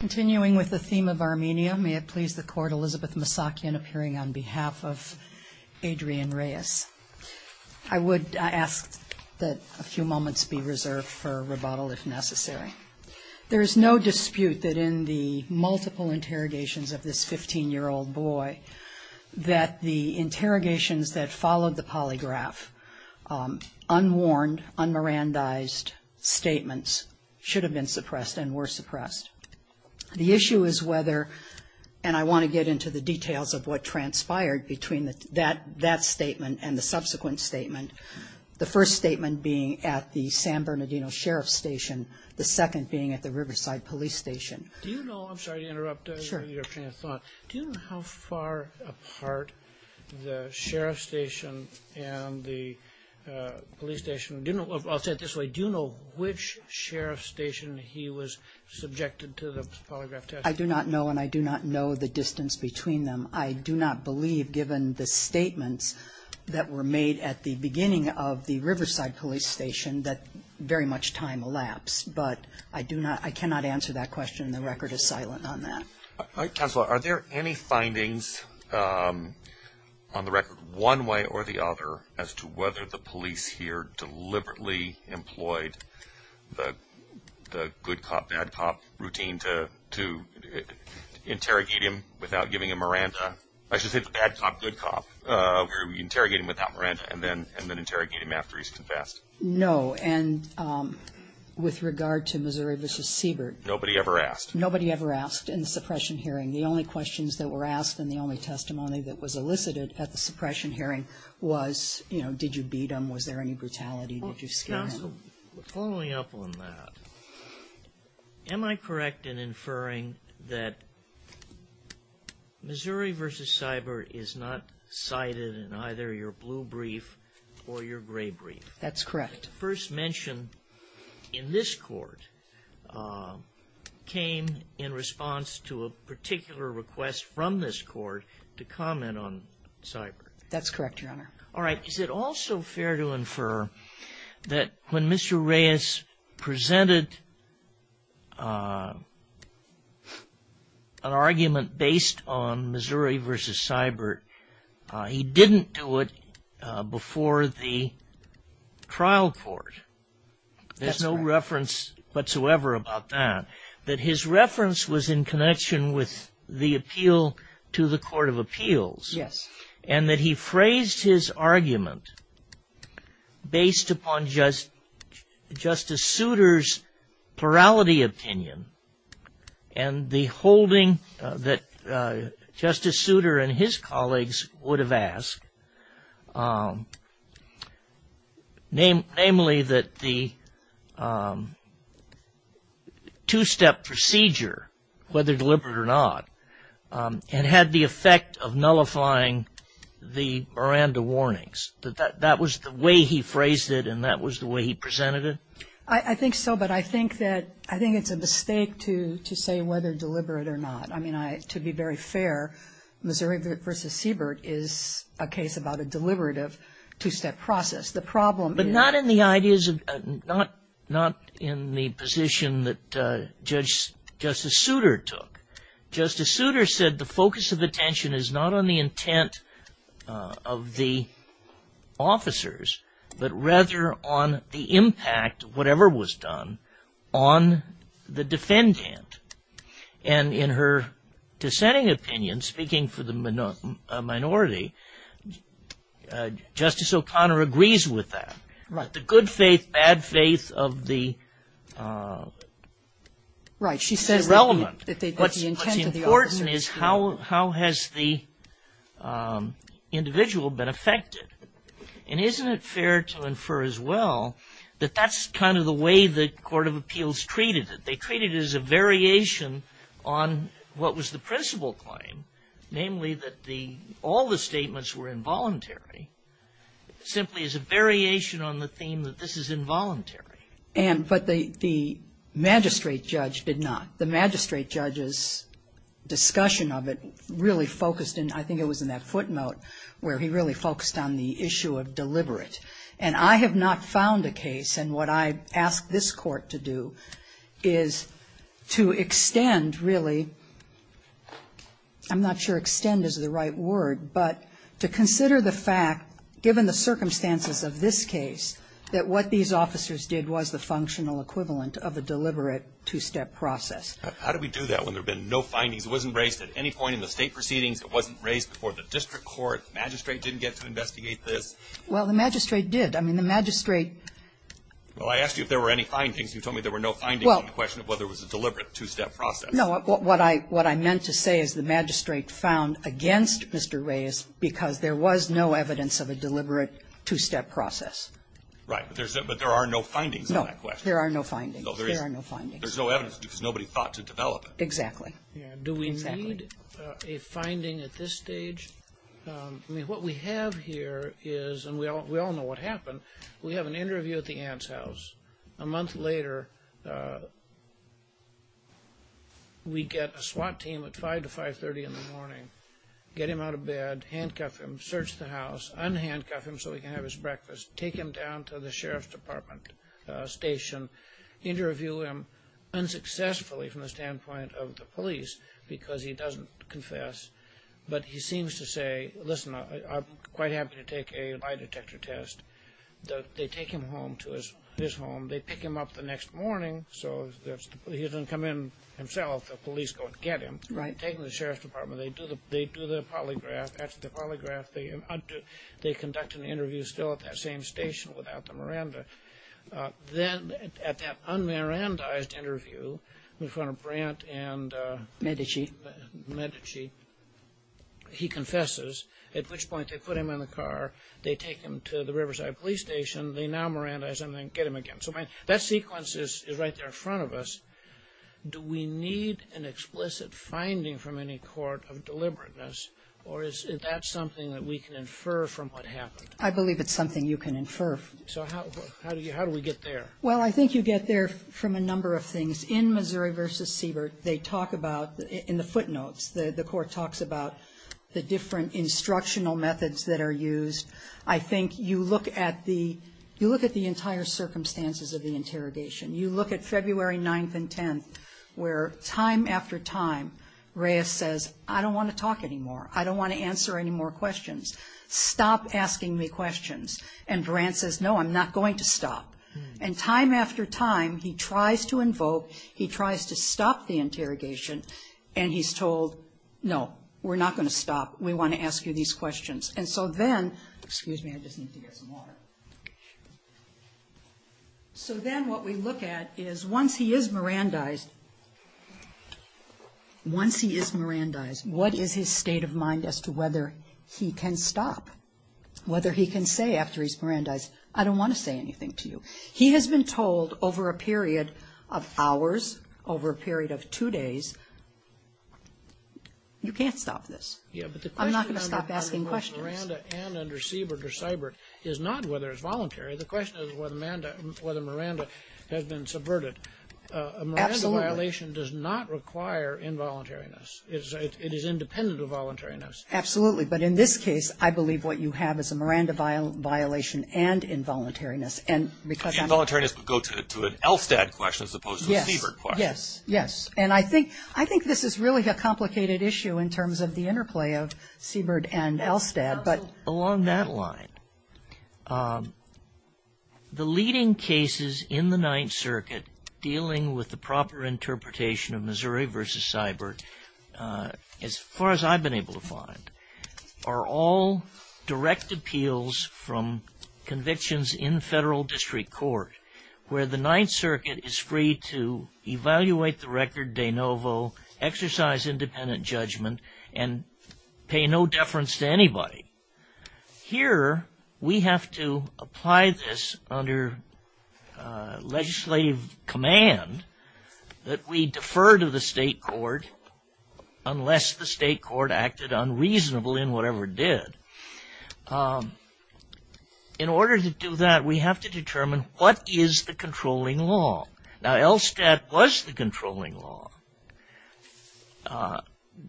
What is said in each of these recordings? Continuing with the theme of Armenia, may it please the court, Elizabeth Masakian appearing on behalf of Adrian Reyes. I would ask that a few moments be reserved for rebuttal if necessary. There is no dispute that in the multiple interrogations of this 15 year old boy, that the interrogations that followed the polygraph, unwarned, un-Mirandized statements, should have been suppressed and were suppressed. The issue is whether, and I want to get into the details of what transpired between that statement and the subsequent statement. The first statement being at the San Bernardino Sheriff's Station, the second being at the Riverside Police Station. Do you know, I'm sorry to interrupt your train of thought, do you know how far apart the Sheriff's Station and the police station, do you know, I'll say it this way, do you know which Sheriff's Station he was subjected to the polygraph test? I do not know, and I do not know the distance between them. I do not believe, given the statements that were made at the beginning of the Riverside Police Station, that very much time elapsed. But I do not, I cannot answer that question, and the record is silent on that. Counselor, are there any findings on the record, one way or the other, as to whether the police here deliberately employed the good cop, bad cop routine to interrogate him without giving him Miranda? I should say the bad cop, good cop, where we interrogate him without Miranda and then interrogate him after he's confessed. No, and with regard to Missouri v. Siebert. Nobody ever asked. Nobody ever asked in the suppression hearing. The only questions that were asked and the only testimony that was elicited at the suppression hearing was, you know, did you beat him? Was there any brutality? Counsel, following up on that, am I correct in inferring that Missouri v. Siebert is not cited in either your blue brief or your gray brief? That's correct. First mention in this court came in response to a particular request from this court to comment on Siebert. All right. Is it also fair to infer that when Mr. Reyes presented an argument based on Missouri v. Siebert, he didn't do it before the trial court? There's no reference whatsoever about that. That his reference was in connection with the appeal to the Court of Appeals. Yes. And that he phrased his argument based upon Justice Souter's plurality opinion and the holding that Justice Souter and his colleagues would have asked. Namely, that the two-step procedure, whether deliberate or not, had the effect of nullifying the Miranda warnings. That that was the way he phrased it and that was the way he presented it? I think so, but I think that it's a mistake to say whether deliberate or not. I mean, to be very fair, Missouri v. Siebert is a case about a deliberative two-step process. The problem is- But not in the ideas of, not in the position that Justice Souter took. Justice Souter said the focus of attention is not on the intent of the officers, but rather on the impact of whatever was done on the defendant. And in her dissenting opinion, speaking for the minority, Justice O'Connor agrees with that. Right. The good faith, bad faith of the- Right. She says that the intent of the officers- What's important is how has the individual been affected? And isn't it fair to infer as well that that's kind of the way the Court of Appeals treated it? They treated it as a variation on what was the principal claim, namely that the, all the statements were involuntary, simply as a variation on the theme that this is involuntary. And, but the magistrate judge did not. The magistrate judge's discussion of it really focused in, I think it was in that footnote, where he really focused on the issue of deliberate. And I have not found a case, and what I ask this Court to do, is to extend, really. I'm not sure extend is the right word, but to consider the fact, given the circumstances of this case, that what these officers did was the functional equivalent of a deliberate two-step process. How do we do that when there have been no findings? It wasn't raised at any point in the State proceedings. It wasn't raised before the district court. The magistrate didn't get to investigate this? Well, the magistrate did. I mean, the magistrate — Well, I asked you if there were any findings. You told me there were no findings in the question of whether it was a deliberate two-step process. No. What I meant to say is the magistrate found against Mr. Reyes because there was no evidence of a deliberate two-step process. Right. But there are no findings on that question. No. There are no findings. There are no findings. There's no evidence because nobody thought to develop it. Exactly. Exactly. I don't need a finding at this stage. I mean, what we have here is — and we all know what happened. We have an interview at the aunt's house. A month later, we get a SWAT team at 5 to 5.30 in the morning, get him out of bed, handcuff him, search the house, unhandcuff him so he can have his breakfast, take him down to the sheriff's department station, interview him, unsuccessfully from the standpoint of the police because he doesn't confess. But he seems to say, listen, I'm quite happy to take a lie detector test. They take him home to his home. They pick him up the next morning so he doesn't come in himself. The police go and get him. Right. Take him to the sheriff's department. They do the polygraph. Then, at that un-Mirandized interview in front of Brandt and Medici, he confesses, at which point they put him in the car, they take him to the Riverside police station, they now Mirandize him and get him again. So that sequence is right there in front of us. Do we need an explicit finding from any court of deliberateness, or is that something that we can infer from what happened? I believe it's something you can infer. So how do we get there? Well, I think you get there from a number of things. In Missouri v. Siebert, they talk about, in the footnotes, the court talks about the different instructional methods that are used. I think you look at the entire circumstances of the interrogation. You look at February 9th and 10th, where time after time, Reyes says, I don't want to talk anymore. I don't want to answer any more questions. Stop asking me questions. And Brandt says, no, I'm not going to stop. And time after time, he tries to invoke, he tries to stop the interrogation, and he's told, no, we're not going to stop. We want to ask you these questions. And so then, excuse me, I just need to get some water. So then what we look at is, once he is Mirandized, what is his state of mind as to whether he can stop, whether he can say after he's Mirandized, I don't want to say anything to you. He has been told over a period of hours, over a period of two days, you can't stop this. I'm not going to stop asking questions. But the question under Miranda and under Siebert or Seibert is not whether it's voluntary. The question is whether Miranda has been subverted. A Miranda violation does not require involuntariness. It is independent of voluntariness. Absolutely. But in this case, I believe what you have is a Miranda violation and involuntariness. And because involuntariness would go to an Elstad question as opposed to a Siebert question. Yes. Yes. And I think this is really a complicated issue in terms of the interplay of Siebert and Elstad. But along that line, the leading cases in the Ninth Circuit dealing with the proper are all direct appeals from convictions in federal district court, where the Ninth Circuit is free to evaluate the record de novo, exercise independent judgment, and pay no deference to anybody. Here we have to apply this under legislative command that we defer to the state court unless the state court acted unreasonable in whatever it did. In order to do that, we have to determine what is the controlling law. Now Elstad was the controlling law.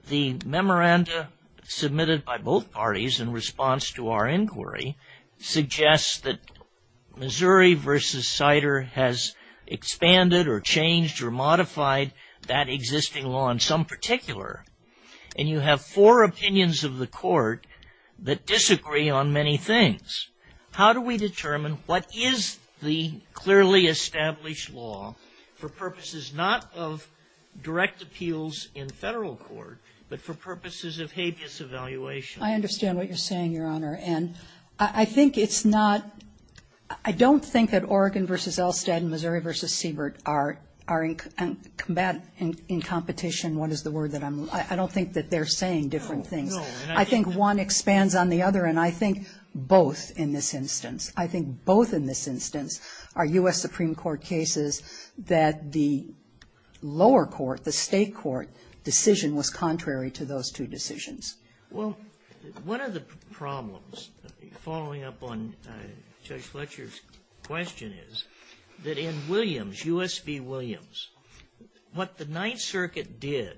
The memoranda submitted by both parties in response to our inquiry suggests that Missouri v. Sider has expanded or changed or modified that existing law in some particular. And you have four opinions of the court that disagree on many things. How do we determine what is the clearly established law for purposes not of direct appeals in federal court, but for purposes of habeas evaluation? I understand what you're saying, Your Honor. And I think it's not – I don't think that Oregon v. Elstad and Missouri v. Siebert are in combat – in competition. What is the word that I'm – I don't think that they're saying different things. I think one expands on the other. And I think both in this instance. I think both in this instance are U.S. Supreme Court cases that the lower court, the state court, decision was contrary to those two decisions. Well, one of the problems following up on Judge Fletcher's question is that in Williams, U.S. v. Williams, what the Ninth Circuit did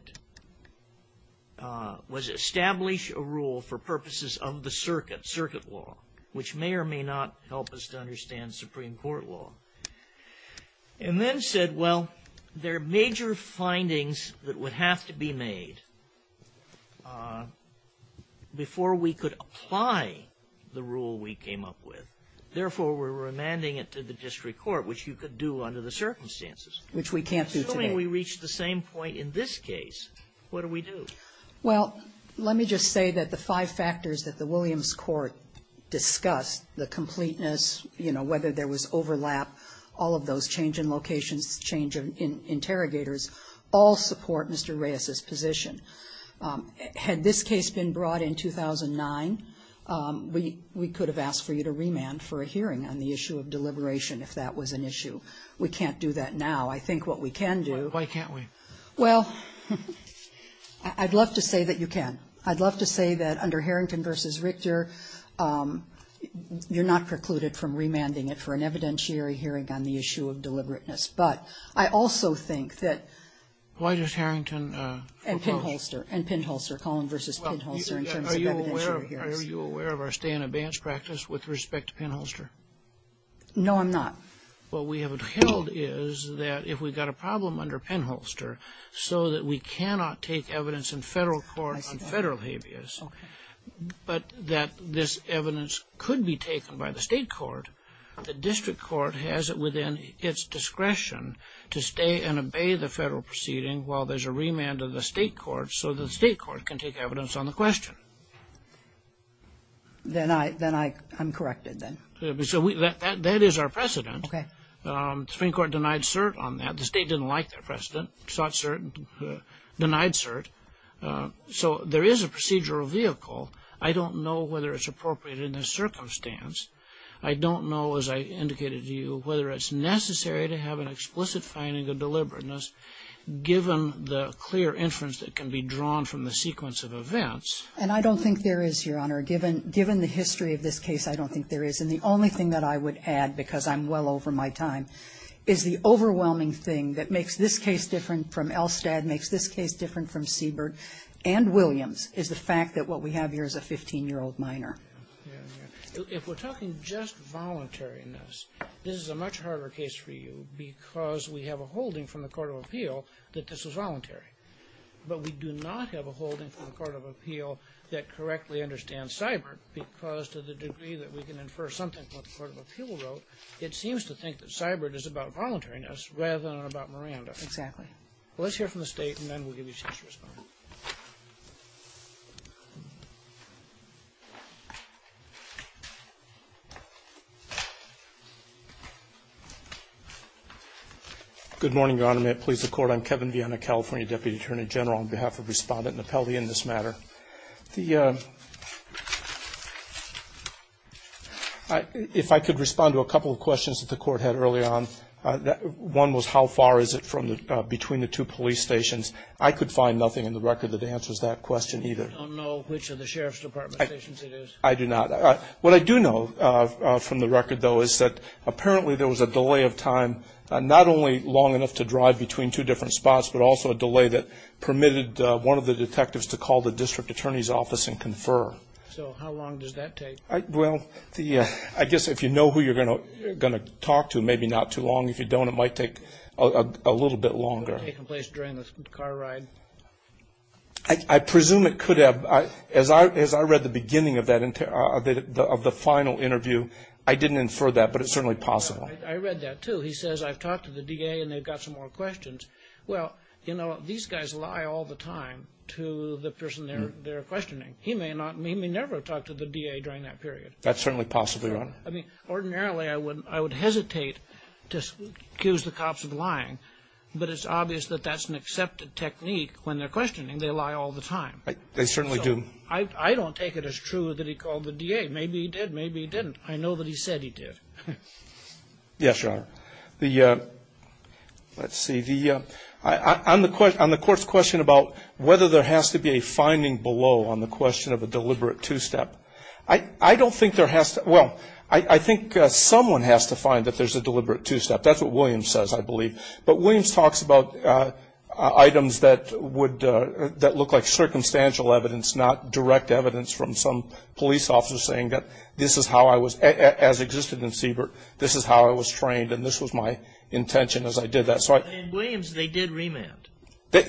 was establish a rule for purposes of the circuit, circuit law, which may or may not help us to understand Supreme Court law. And then said, well, there are major findings that would have to be made before we could apply the rule we came up with. Therefore, we're remanding it to the district court, which you could do under the circumstances. Which we can't do today. Assuming we reach the same point in this case, what do we do? Well, let me just say that the five factors that the Williams court discussed, the completeness, whether there was overlap, all of those change in locations, change in interrogators, all support Mr. Reyes's position. Had this case been brought in 2009, we could have asked for you to remand for a hearing on the issue of deliberation if that was an issue. We can't do that now. I think what we can do. Why can't we? Well, I'd love to say that you can. I'd love to say that under Harrington versus Richter, you're not precluded from remanding it for an evidentiary hearing on the issue of deliberateness, but I also think that. Why does Harrington propose? And Pinholster, and Pinholster, Collin versus Pinholster in terms of evidentiary hearings. Are you aware of our stay in advance practice with respect to Pinholster? No, I'm not. What we have held is that if we've got a problem under Pinholster so that we cannot take evidence in federal court on federal habeas. But that this evidence could be taken by the state court. The district court has it within its discretion to stay and obey the federal proceeding while there's a remand of the state court so the state court can take evidence on the question. Then I, then I, I'm corrected then. Yeah, but so we, that, that, that is our precedent. Okay. The Supreme Court denied cert on that. The state didn't like that precedent, sought cert, denied cert. So there is a procedural vehicle. I don't know whether it's appropriate in this circumstance. I don't know, as I indicated to you, whether it's necessary to have an explicit finding of deliberateness given the clear inference that can be drawn from the sequence of events. And I don't think there is, Your Honor, given, given the history of this case, I don't think there is. And the only thing that I would add, because I'm well over my time, is the overwhelming thing that makes this case different from Elstad, makes this case different from Siebert and Williams, is the fact that what we have here is a 15-year-old minor. If we're talking just voluntariness, this is a much harder case for you because we have a holding from the court of appeal that this was voluntary. But we do not have a holding from the court of appeal that correctly understands Seibert because to the degree that we can infer something from what the court of appeal wrote, it seems to think that Seibert is about voluntariness rather than about Miranda. Exactly. Let's hear from the State and then we'll give you a chance to respond. Good morning, Your Honor. May it please the Court. I'm Kevin Viena, California Deputy Attorney General, on behalf of Respondent Napelde in this matter. The, if I could respond to a couple of questions that the court had early on. One was how far is it from the, between the two police stations. I could find nothing in the record that answers that question either. You don't know which of the sheriff's department stations it is? I do not. What I do know from the record though is that apparently there was a delay of time, not only long enough to drive between two different spots, but also a delay that would call the district attorney's office and confer. So how long does that take? Well, the, I guess if you know who you're going to talk to, maybe not too long. If you don't, it might take a little bit longer. Would it have taken place during the car ride? I presume it could have. As I read the beginning of that, of the final interview, I didn't infer that, but it's certainly possible. I read that too. He says, I've talked to the DA and they've got some more questions. Well, you know, these guys lie all the time to the person they're questioning. He may not, he may never have talked to the DA during that period. That's certainly possible, Your Honor. I mean, ordinarily I would, I would hesitate to accuse the cops of lying. But it's obvious that that's an accepted technique when they're questioning. They lie all the time. They certainly do. I, I don't take it as true that he called the DA. Maybe he did, maybe he didn't. I know that he said he did. Yes, Your Honor. The, let's see, the, on the court's question about whether there has to be a finding below on the question of a deliberate two-step. I don't think there has to, well, I think someone has to find that there's a deliberate two-step. That's what Williams says, I believe. But Williams talks about items that would, that look like circumstantial evidence, not direct evidence from some police officer saying that this is how I was, as existed in Siebert. This is how I was trained, and this was my intention as I did that. So I. In Williams, they did remand.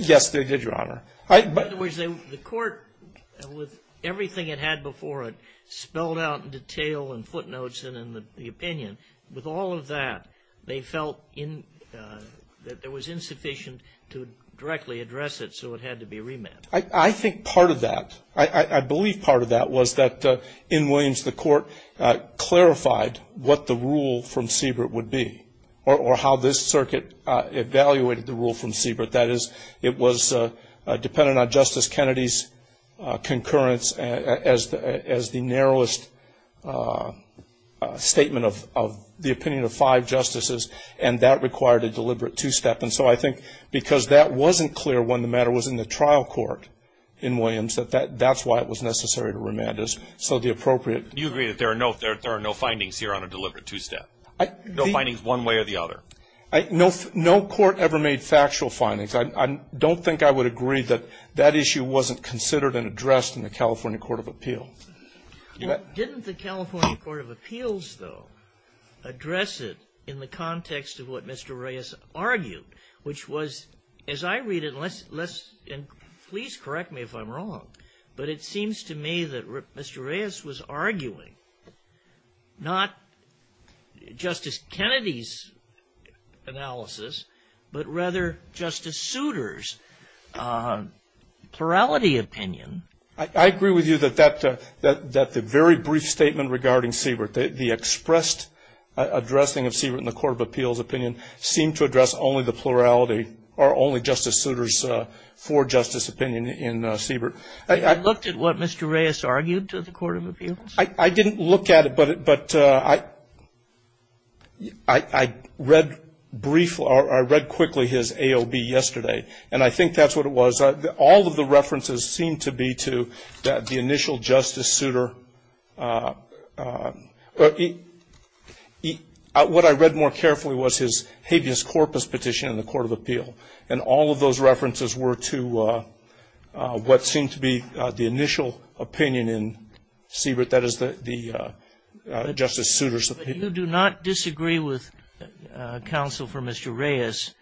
Yes, they did, Your Honor. I, but. In other words, the court, with everything it had before it, spelled out in detail and footnotes and in the opinion. With all of that, they felt in, that there was insufficient to directly address it, so it had to be remanded. I, I think part of that, I, I believe part of that was that in Williams, the court clarified what the rule from Siebert would be, or, or how this circuit evaluated the rule from Siebert. That is, it was dependent on Justice Kennedy's concurrence as the, as the narrowest statement of, of the opinion of five justices, and that required a deliberate two-step. And so I think because that wasn't clear when the matter was in the trial court in Williams, that that, that's why it was necessary to remand us. So the appropriate. You agree that there are no, there are no findings here on a deliberate two-step? I. No findings one way or the other? I, no, no court ever made factual findings. I, I don't think I would agree that that issue wasn't considered and addressed in the California Court of Appeals. Didn't the California Court of Appeals, though, address it in the context of what Mr. Reyes argued, which was, as I read it, and let's, let's, and please correct me if I'm wrong, but it seems to me that Mr. Reyes was arguing not Justice Kennedy's analysis, but rather Justice Souter's plurality opinion. I, I agree with you that that, that, that the very brief statement regarding Siebert, the, the expressed addressing of Siebert in the Court of Appeals opinion seemed to address only the plurality or only Justice Souter's for-justice opinion in Siebert. I, I. Looked at what Mr. Reyes argued to the Court of Appeals? I, I didn't look at it, but, but I, I, I read briefly, or I read quickly his AOB yesterday, and I think that's what it was. All of the references seem to be to the initial Justice Souter. He, he, what I read more carefully was his habeas corpus petition in the Court of Appeal, and all of those references were to what seemed to be the initial opinion in Siebert, that is the, the Justice Souter's opinion. You do not disagree with counsel for Mr. Reyes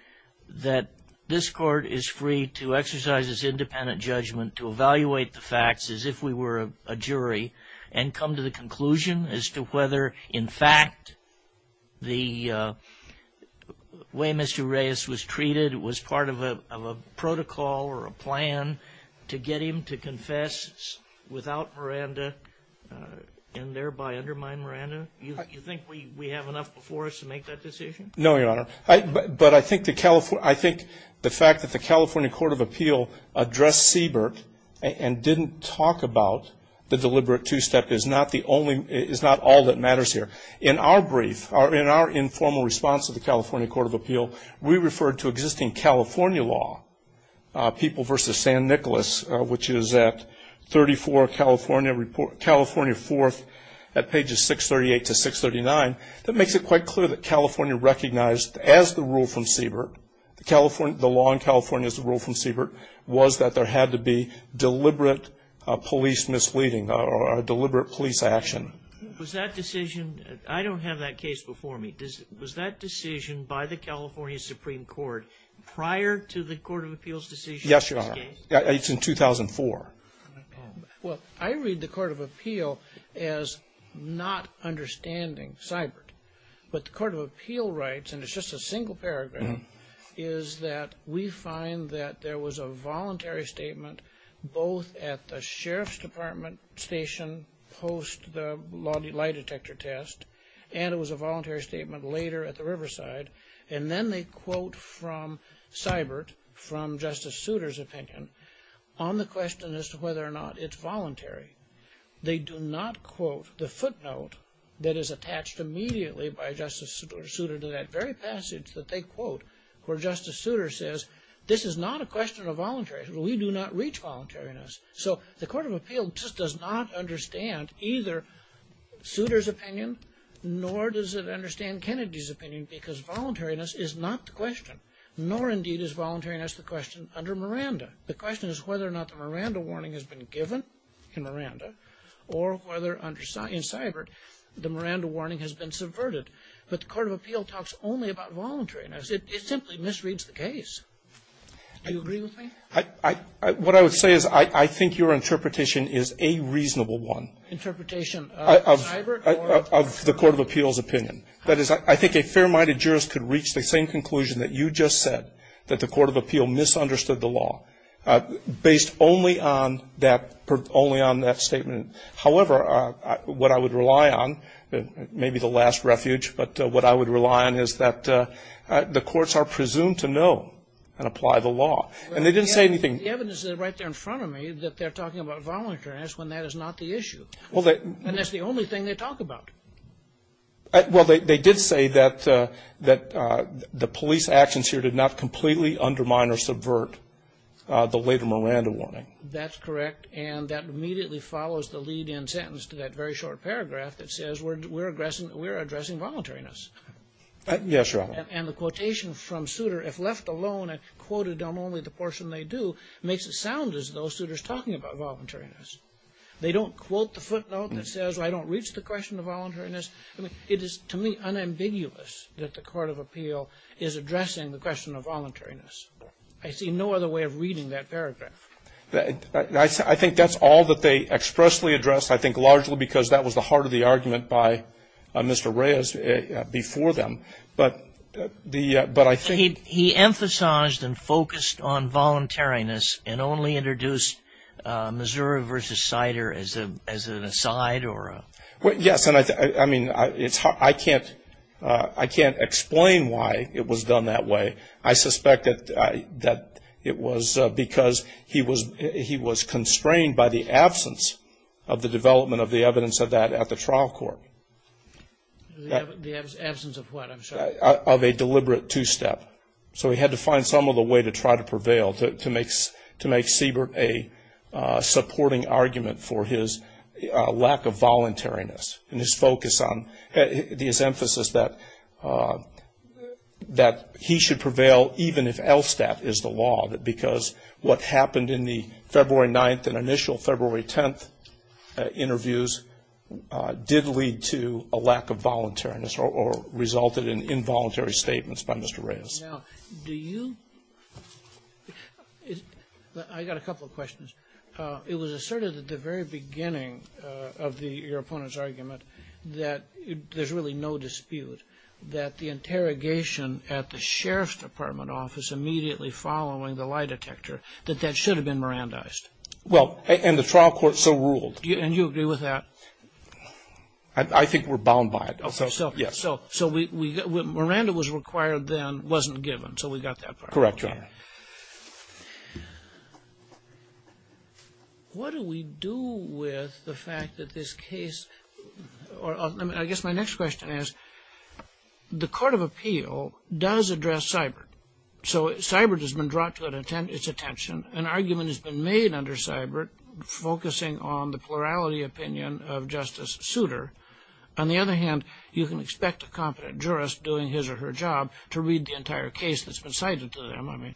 that this court is free to exercise its independent judgment to evaluate the facts as if we were a jury and come to the conclusion as to whether, in fact, the way Mr. Reyes was treated was part of a, of a protocol or a plan to get him to confess without Miranda and thereby undermine Miranda? You, you think we, we have enough before us to make that decision? No, Your Honor. I, but, but I think the California, I think the fact that the California Court of Appeal addressed Siebert and didn't talk about the deliberate two-step is not the only, is not all that matters here. In our brief, or in our informal response to the California Court of Appeal, we referred to existing California law, People v. San Nicolas, which is at 34 California Report, California 4th at pages 638 to 639, that makes it quite clear that California recognized as the rule from Siebert, the California, the law in California as a rule from Siebert was that there had to be deliberate police misleading or a deliberate police action. Was that decision, I don't have that case before me. Does, was that decision by the California Supreme Court prior to the Court of Appeal's decision? Yes, Your Honor. It's in 2004. Well, I read the Court of Appeal as not understanding Siebert, but the Court of Appeal writes, and it's just a single paragraph, is that we find that there was a voluntary statement both at the Sheriff's Department station post the lie detector test, and it was a voluntary statement later at the Riverside, and then they quote from Siebert, from Justice Souter's opinion, on the question as to whether or not it's voluntary. They do not quote the footnote that is attached immediately by Justice Souter to that very passage that they quote, where Justice Souter says, this is not a question of voluntary. We do not reach voluntariness. So the Court of Appeal just does not understand either Souter's opinion, nor does it understand Kennedy's opinion, because voluntariness is not the question, nor indeed is voluntariness the question under Miranda. The question is whether or not the Miranda warning has been given in Miranda, or whether under Siebert, the Miranda warning has been subverted. But the Court of Appeal talks only about voluntariness. It simply misreads the case. Do you agree with me? I – what I would say is I think your interpretation is a reasonable one. Interpretation of Siebert or of the Court of Appeal's opinion. That is, I think a fair-minded jurist could reach the same conclusion that you just said, that the Court of Appeal misunderstood the law, based only on that – only on that statement. However, what I would rely on, maybe the last refuge, but what I would rely on is that the courts are presumed to know and apply the law, and they didn't say anything. The evidence is right there in front of me that they're talking about voluntariness when that is not the issue, and that's the only thing they talk about. Well, they did say that the police actions here did not completely undermine or subvert the later Miranda warning. That's correct, and that immediately follows the lead-in sentence to that very short paragraph that says we're addressing voluntariness. Yes, Your Honor. And the quotation from Souter, if left alone and quoted on only the portion they do, makes it sound as though Souter's talking about voluntariness. They don't quote the footnote that says I don't reach the question of voluntariness. I mean, it is, to me, unambiguous that the Court of Appeal is addressing the question of voluntariness. I see no other way of reading that paragraph. I think that's all that they expressly addressed, I think largely because that was the heart of the argument by Mr. Reyes before them. But the – but I think – He emphasized and focused on voluntariness and only introduced Missouri v. Sider as an aside or a – Well, yes, and I mean, it's – I can't explain why it was done that way. I suspect that it was because he was constrained by the absence of the development of the evidence of that at the trial court. The absence of what, I'm sorry? Of a deliberate two-step. So he had to find some other way to try to prevail, to make Siebert a supporting argument for his lack of voluntariness and his focus on – his emphasis that he should prevail even if LSTAT is the law, because what happened in the February 9th and initial February 10th did lead to a lack of voluntariness or resulted in involuntary statements by Mr. Reyes. Now, do you – I got a couple of questions. It was asserted at the very beginning of the – your opponent's argument that there's really no dispute that the interrogation at the Sheriff's Department office immediately following the lie detector, that that should have been Mirandized. Well, and the trial court so ruled. And you agree with that? I think we're bound by it. Okay. So, yes. So Miranda was required then, wasn't given. So we got that part. Correct, Your Honor. What do we do with the fact that this case – I guess my next question is, the court of appeal does address Siebert. So Siebert has been brought to its attention, an argument has been made under Siebert focusing on the plurality opinion of Justice Souter. On the other hand, you can expect a competent jurist doing his or her job to read the entire case that's been cited to them. I mean,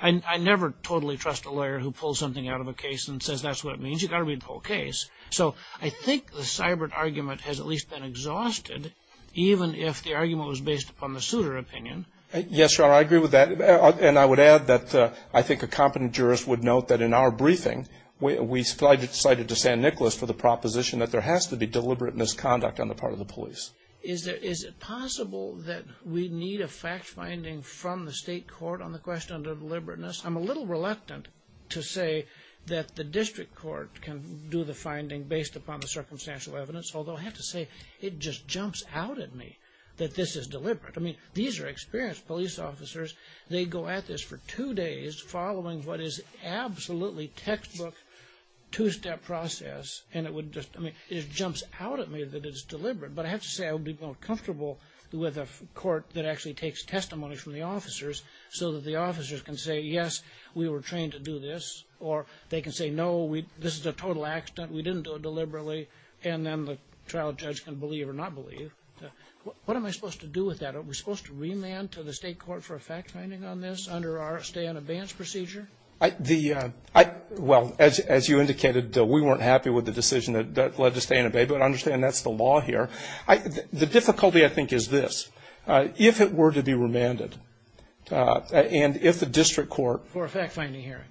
I never totally trust a lawyer who pulls something out of a case and says that's what it means. You've got to read the whole case. So I think the Siebert argument has at least been exhausted, even if the argument was based upon the Souter opinion. Yes, Your Honor, I agree with that. And I would add that I think a competent jurist would note that in our briefing, we cited to San Nicolas for the proposition that there has to be deliberate misconduct on the part of the police. Is it possible that we need a fact-finding from the state court on the question of deliberateness? I'm a little reluctant to say that the district court can do the finding based upon the circumstantial evidence, although I have to say it just jumps out at me that this is deliberate. I mean, these are experienced police officers. They go at this for two days following what is absolutely textbook two-step process, and it would just, I mean, it jumps out at me that it's deliberate. But I have to say I would be more comfortable with a court that actually takes testimony from the officers so that the officers can say, yes, we were trained to do this, or they can say, no, this is a total accident, we didn't do it deliberately, and then the trial judge can believe or not believe. What am I supposed to do with that? Are we supposed to remand to the state court for a fact-finding on this under our stay-in-abeyance procedure? The, well, as you indicated, we weren't happy with the decision that led to stay-in-abeyance, but I understand that's the law here. The difficulty, I think, is this. If it were to be remanded, and if the district court For a fact-finding hearing.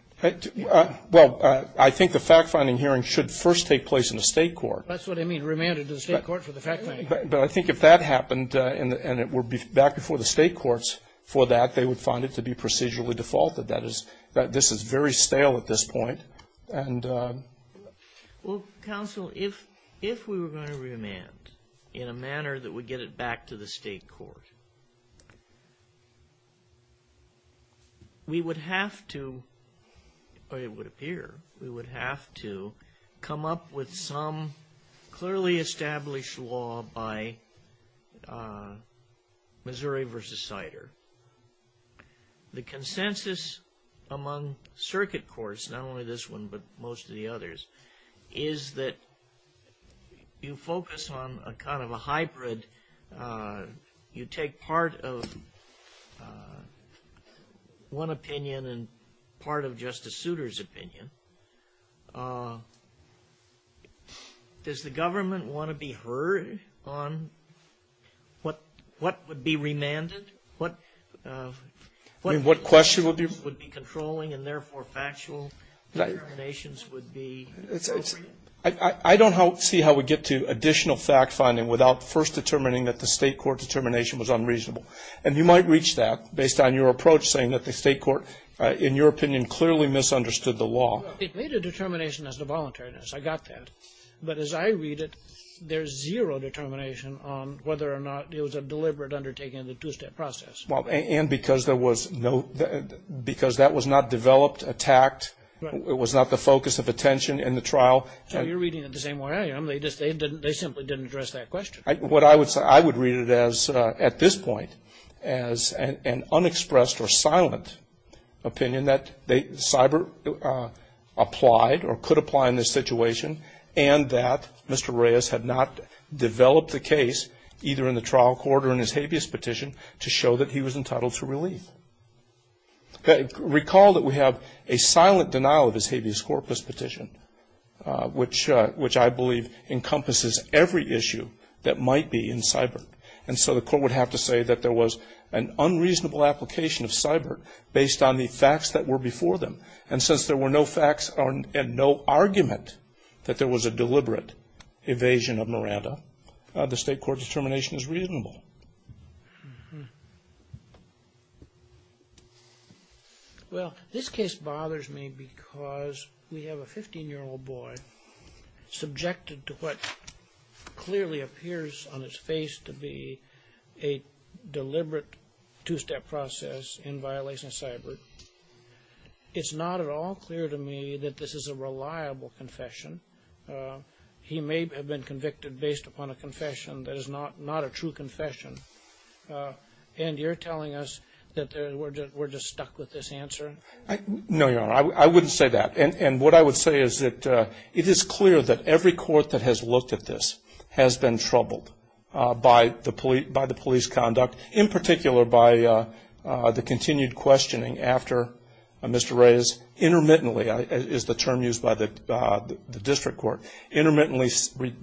Well, I think the fact-finding hearing should first take place in the state court. That's what I mean, remanded to the state court for the fact-finding. But I think if that happened, and it would be back before the state courts for that, they would find it to be procedurally defaulted. That is, this is very stale at this point, and Well, counsel, if we were going to remand in a manner that would get it back to the state court, we would have to, or it would appear, we would have to come up with some clearly established law by Missouri v. Sider. The consensus among circuit courts, not only this one, but most of the others, is that you focus on a kind of a hybrid. You take part of one opinion and part of Justice Souter's opinion. Does the government want to be heard on what would be remanded? What question would be controlling and therefore factual determinations would be I don't see how we get to additional fact-finding without first determining that the state court determination was unreasonable. And you might reach that based on your approach, saying that the state court, in your opinion, clearly misunderstood the law. It made a determination as to voluntariness. I got that. But as I read it, there's zero determination on whether or not it was a deliberate undertaking of the two-step process. Well, and because there was no, because that was not developed, attacked, it was not the focus of attention in the trial. So you're reading it the same way I am. They just, they simply didn't address that question. What I would say, I would read it as, at this point, as an unexpressed or silent opinion that cyber applied or could apply in this situation and that Mr. Reyes had not developed the case, either in the trial court or in his habeas petition, to show that he was entitled to relief. Recall that we have a silent denial of his habeas corpus petition, which I believe encompasses every issue that might be in cyber. And so the court would have to say that there was an unreasonable application of cyber based on the facts that were before them. And since there were no facts and no argument that there was a deliberate evasion of Miranda, the state court determination is reasonable. Well, this case bothers me because we have a 15-year-old boy subjected to what clearly appears on his face to be a deliberate two-step process in violation of cyber. It's not at all clear to me that this is a reliable confession. He may have been convicted based upon a confession that is not a true confession. And you're telling us that we're just stuck with this answer? No, Your Honor, I wouldn't say that. And what I would say is that it is clear that every court that has looked at this has been troubled by the police conduct, in particular, by the continued questioning after Mr. Reyes, intermittently is the term used by the district court, intermittently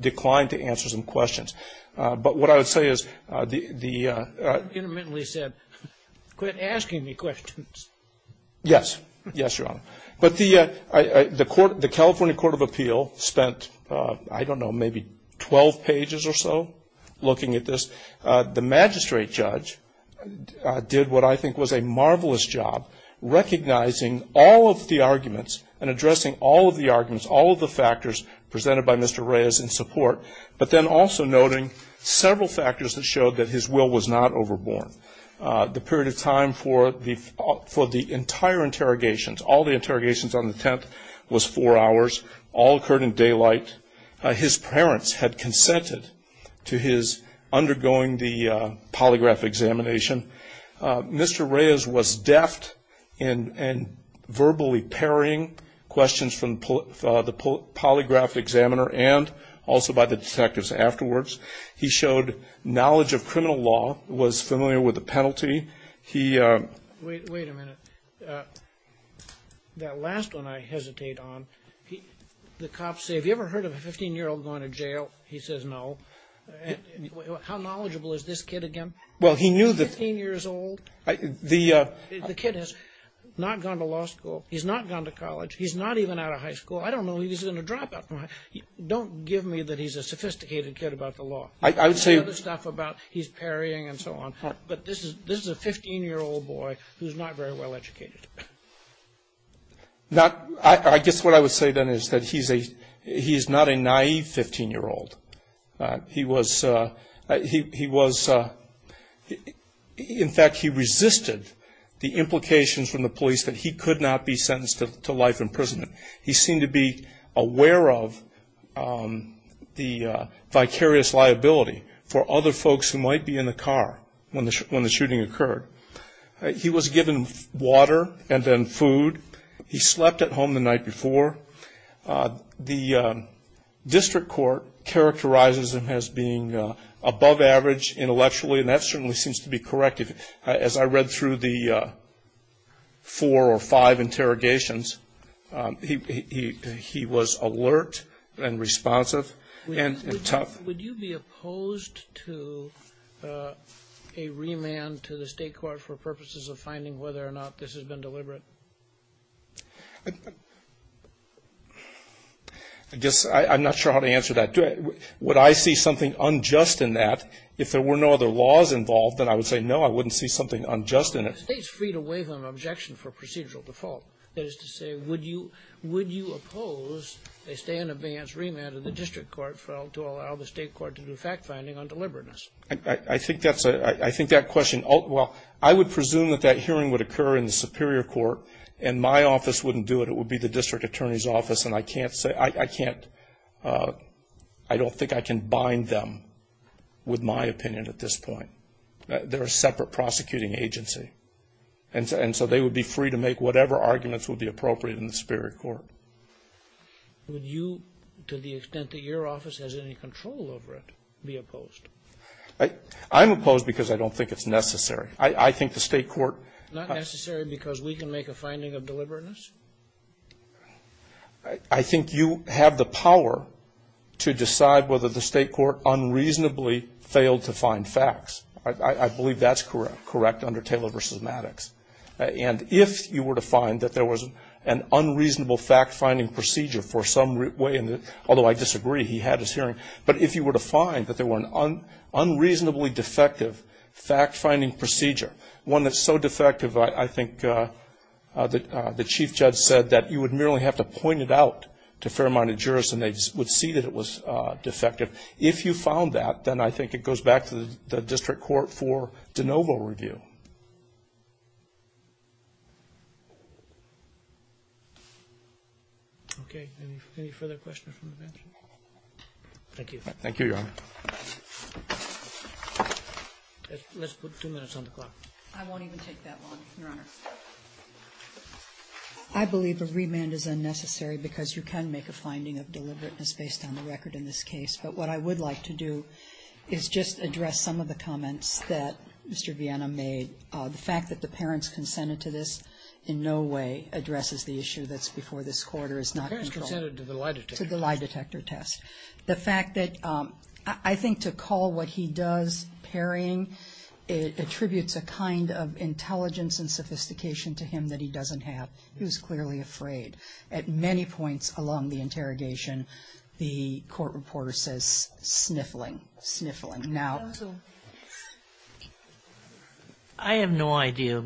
declined to answer some questions. But what I would say is the- Intermittently said, quit asking me questions. Yes, yes, Your Honor. But the California Court of Appeal spent, I don't know, maybe 12 pages or so looking at this. The magistrate judge did what I think was a marvelous job, recognizing all of the arguments and addressing all of the arguments, all of the factors presented by Mr. Reyes in support. But then also noting several factors that showed that his will was not overborn. The period of time for the entire interrogations, all the interrogations on the 10th was four hours, all occurred in daylight. His parents had consented to his undergoing the polygraph examination. Mr. Reyes was deft in verbally parrying questions from the polygraph examiner and also by the detectives afterwards. He showed knowledge of criminal law, was familiar with the penalty. He- Wait a minute. That last one I hesitate on. The cops say, have you ever heard of a 15-year-old going to jail? He says no. How knowledgeable is this kid again? Well, he knew that- 15 years old? The- The kid has not gone to law school. He's not gone to college. He's not even out of high school. I don't know if he's in a dropout. Don't give me that he's a sophisticated kid about the law. I would say- The other stuff about he's parrying and so on. But this is a 15-year-old boy who's not very well educated. Not, I guess what I would say then is that he's a, he's not a naive 15-year-old. He was, he was, in fact he resisted the implications from the police that he could not be sentenced to life imprisonment. He seemed to be aware of the vicarious liability for other folks who might be in the car when the shooting occurred. He was given water and then food. He slept at home the night before. The district court characterizes him as being above average intellectually, and that certainly seems to be correct. As I read through the four or five interrogations, he was alert and responsive and tough. Would you be opposed to a remand to the state court for purposes of finding whether or not this has been deliberate? I guess I'm not sure how to answer that. Would I see something unjust in that if there were no other laws involved, then I would say no, I wouldn't see something unjust in it. State's free to waive an objection for procedural default. That is to say, would you, would you oppose a stay in advance remand of the district court for, to allow the state court to do fact finding on deliberateness? I, I, I think that's a, I, I think that question, well, I would presume that that hearing would occur in the superior court, and my office wouldn't do it. It would be the district attorney's office, and I can't say, I, I can't I don't think I can bind them with my opinion at this point. They're a separate prosecuting agency, and so they would be free to make whatever arguments would be appropriate in the superior court. Would you, to the extent that your office has any control over it, be opposed? I, I'm opposed because I don't think it's necessary. I, I think the state court. Not necessary because we can make a finding of deliberateness? I think you have the power to decide whether the state court unreasonably failed to find facts. I, I, I believe that's correct, correct under Taylor versus Maddox. And if you were to find that there was an unreasonable fact finding procedure for some way in the, although I disagree, he had his hearing. But if you were to find that there were an un, unreasonably defective fact finding procedure. One that's so defective I, I think that the chief judge said that you would merely have to point it out to fair minded jurists and they would see that it was defective. If you found that, then I think it goes back to the, the district court for de novo review. Okay, any, any further questions from the bench? Thank you. Thank you, Your Honor. Let's, let's put two minutes on the clock. I won't even take that long, Your Honor. I believe a remand is unnecessary because you can make a finding of deliberateness based on the record in this case. But what I would like to do is just address some of the comments that Mr. Viena made. The fact that the parents consented to this in no way addresses the issue that's before this court or is not controlled. To the lie detector test. The fact that, I, I think to call what he does parrying, it attributes a kind of intelligence and sophistication to him that he doesn't have. He was clearly afraid at many points along the interrogation. The court reporter says sniffling, sniffling. Now, I have no idea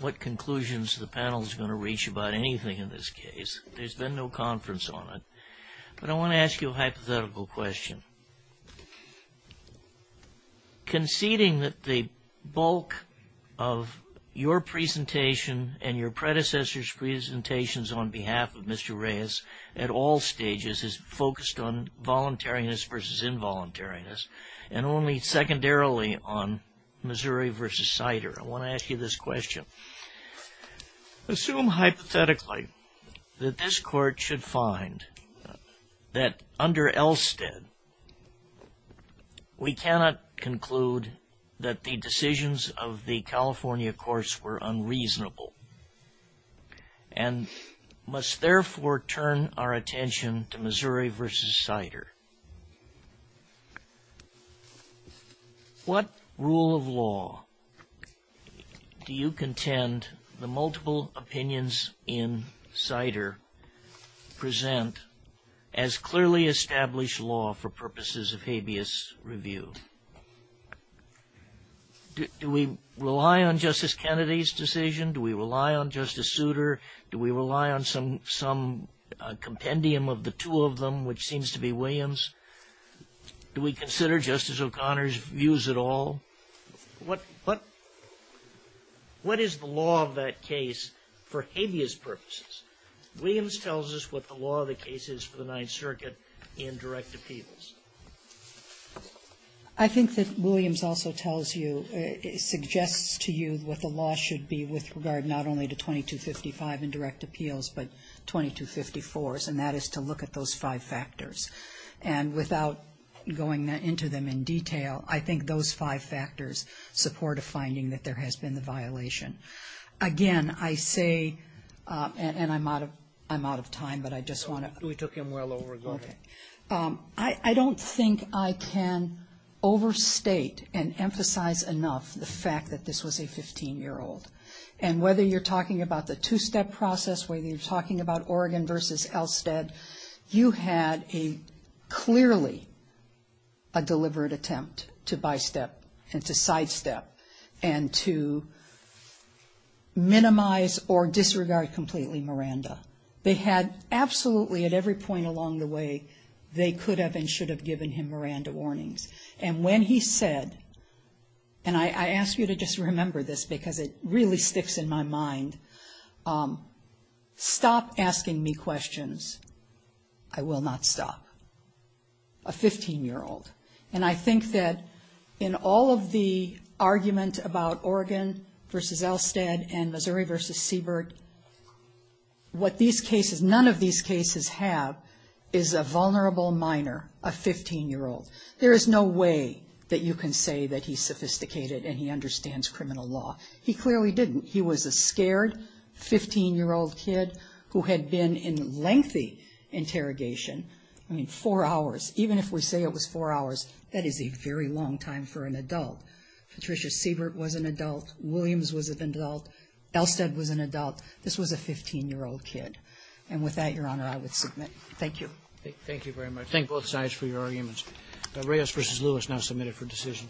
what conclusions the panel is going to reach about anything in this case. There's been no conference on it. But I want to ask you a hypothetical question. Conceding that the bulk of your presentation and your predecessor's presentations on behalf of Mr. Reyes at all stages is focused on voluntariness versus involuntariness. And only secondarily on Missouri versus Sider. I want to ask you this question. Assume hypothetically that this court should find that under Elstead, we cannot conclude that the decisions of the California courts were unreasonable. And must therefore turn our attention to Missouri versus Sider. What rule of law do you contend the multiple opinions in Sider present as clearly established law for purposes of habeas review? Do we rely on Justice Kennedy's decision? Do we rely on Justice Souter? Do we rely on some compendium of the two of them, which seems to be Williams? Do we consider Justice O'Connor's views at all? What is the law of that case for habeas purposes? Williams tells us what the law of the case is for the Ninth Circuit in direct appeals. I think that Williams also tells you, suggests to you what the law should be with regard not only to 2255 in direct appeals, but 2254s. And that is to look at those five factors. And without going into them in detail, I think those five factors support a finding that there has been a violation. Again, I say, and I'm out of time, but I just want to. We took him well over. Go ahead. I don't think I can overstate and emphasize enough the fact that this was a 15-year-old. And whether you're talking about the two-step process, whether you're talking about Oregon versus Elstead, you had a clearly a deliberate attempt to bystep and to sidestep and to minimize or disregard completely Miranda. They had absolutely at every point along the way, they could have and should have given him Miranda warnings. And when he said, and I ask you to just remember this because it really sticks in my mind, stop asking me questions. I will not stop. A 15-year-old. And I think that in all of the argument about Oregon versus Elstead and Missouri versus Siebert, what these cases, none of these cases have is a vulnerable minor, a 15-year-old. There is no way that you can say that he's sophisticated and he understands criminal law. He clearly didn't. He was a scared 15-year-old kid who had been in lengthy interrogation, I mean, four hours. Even if we say it was four hours, that is a very long time for an adult. Patricia Siebert was an adult. Williams was an adult. Elstead was an adult. This was a 15-year-old kid. And with that, Your Honor, I would submit. Thank you. Thank you very much. Thank both sides for your arguments. Reyes v. Lewis now submitted for decision.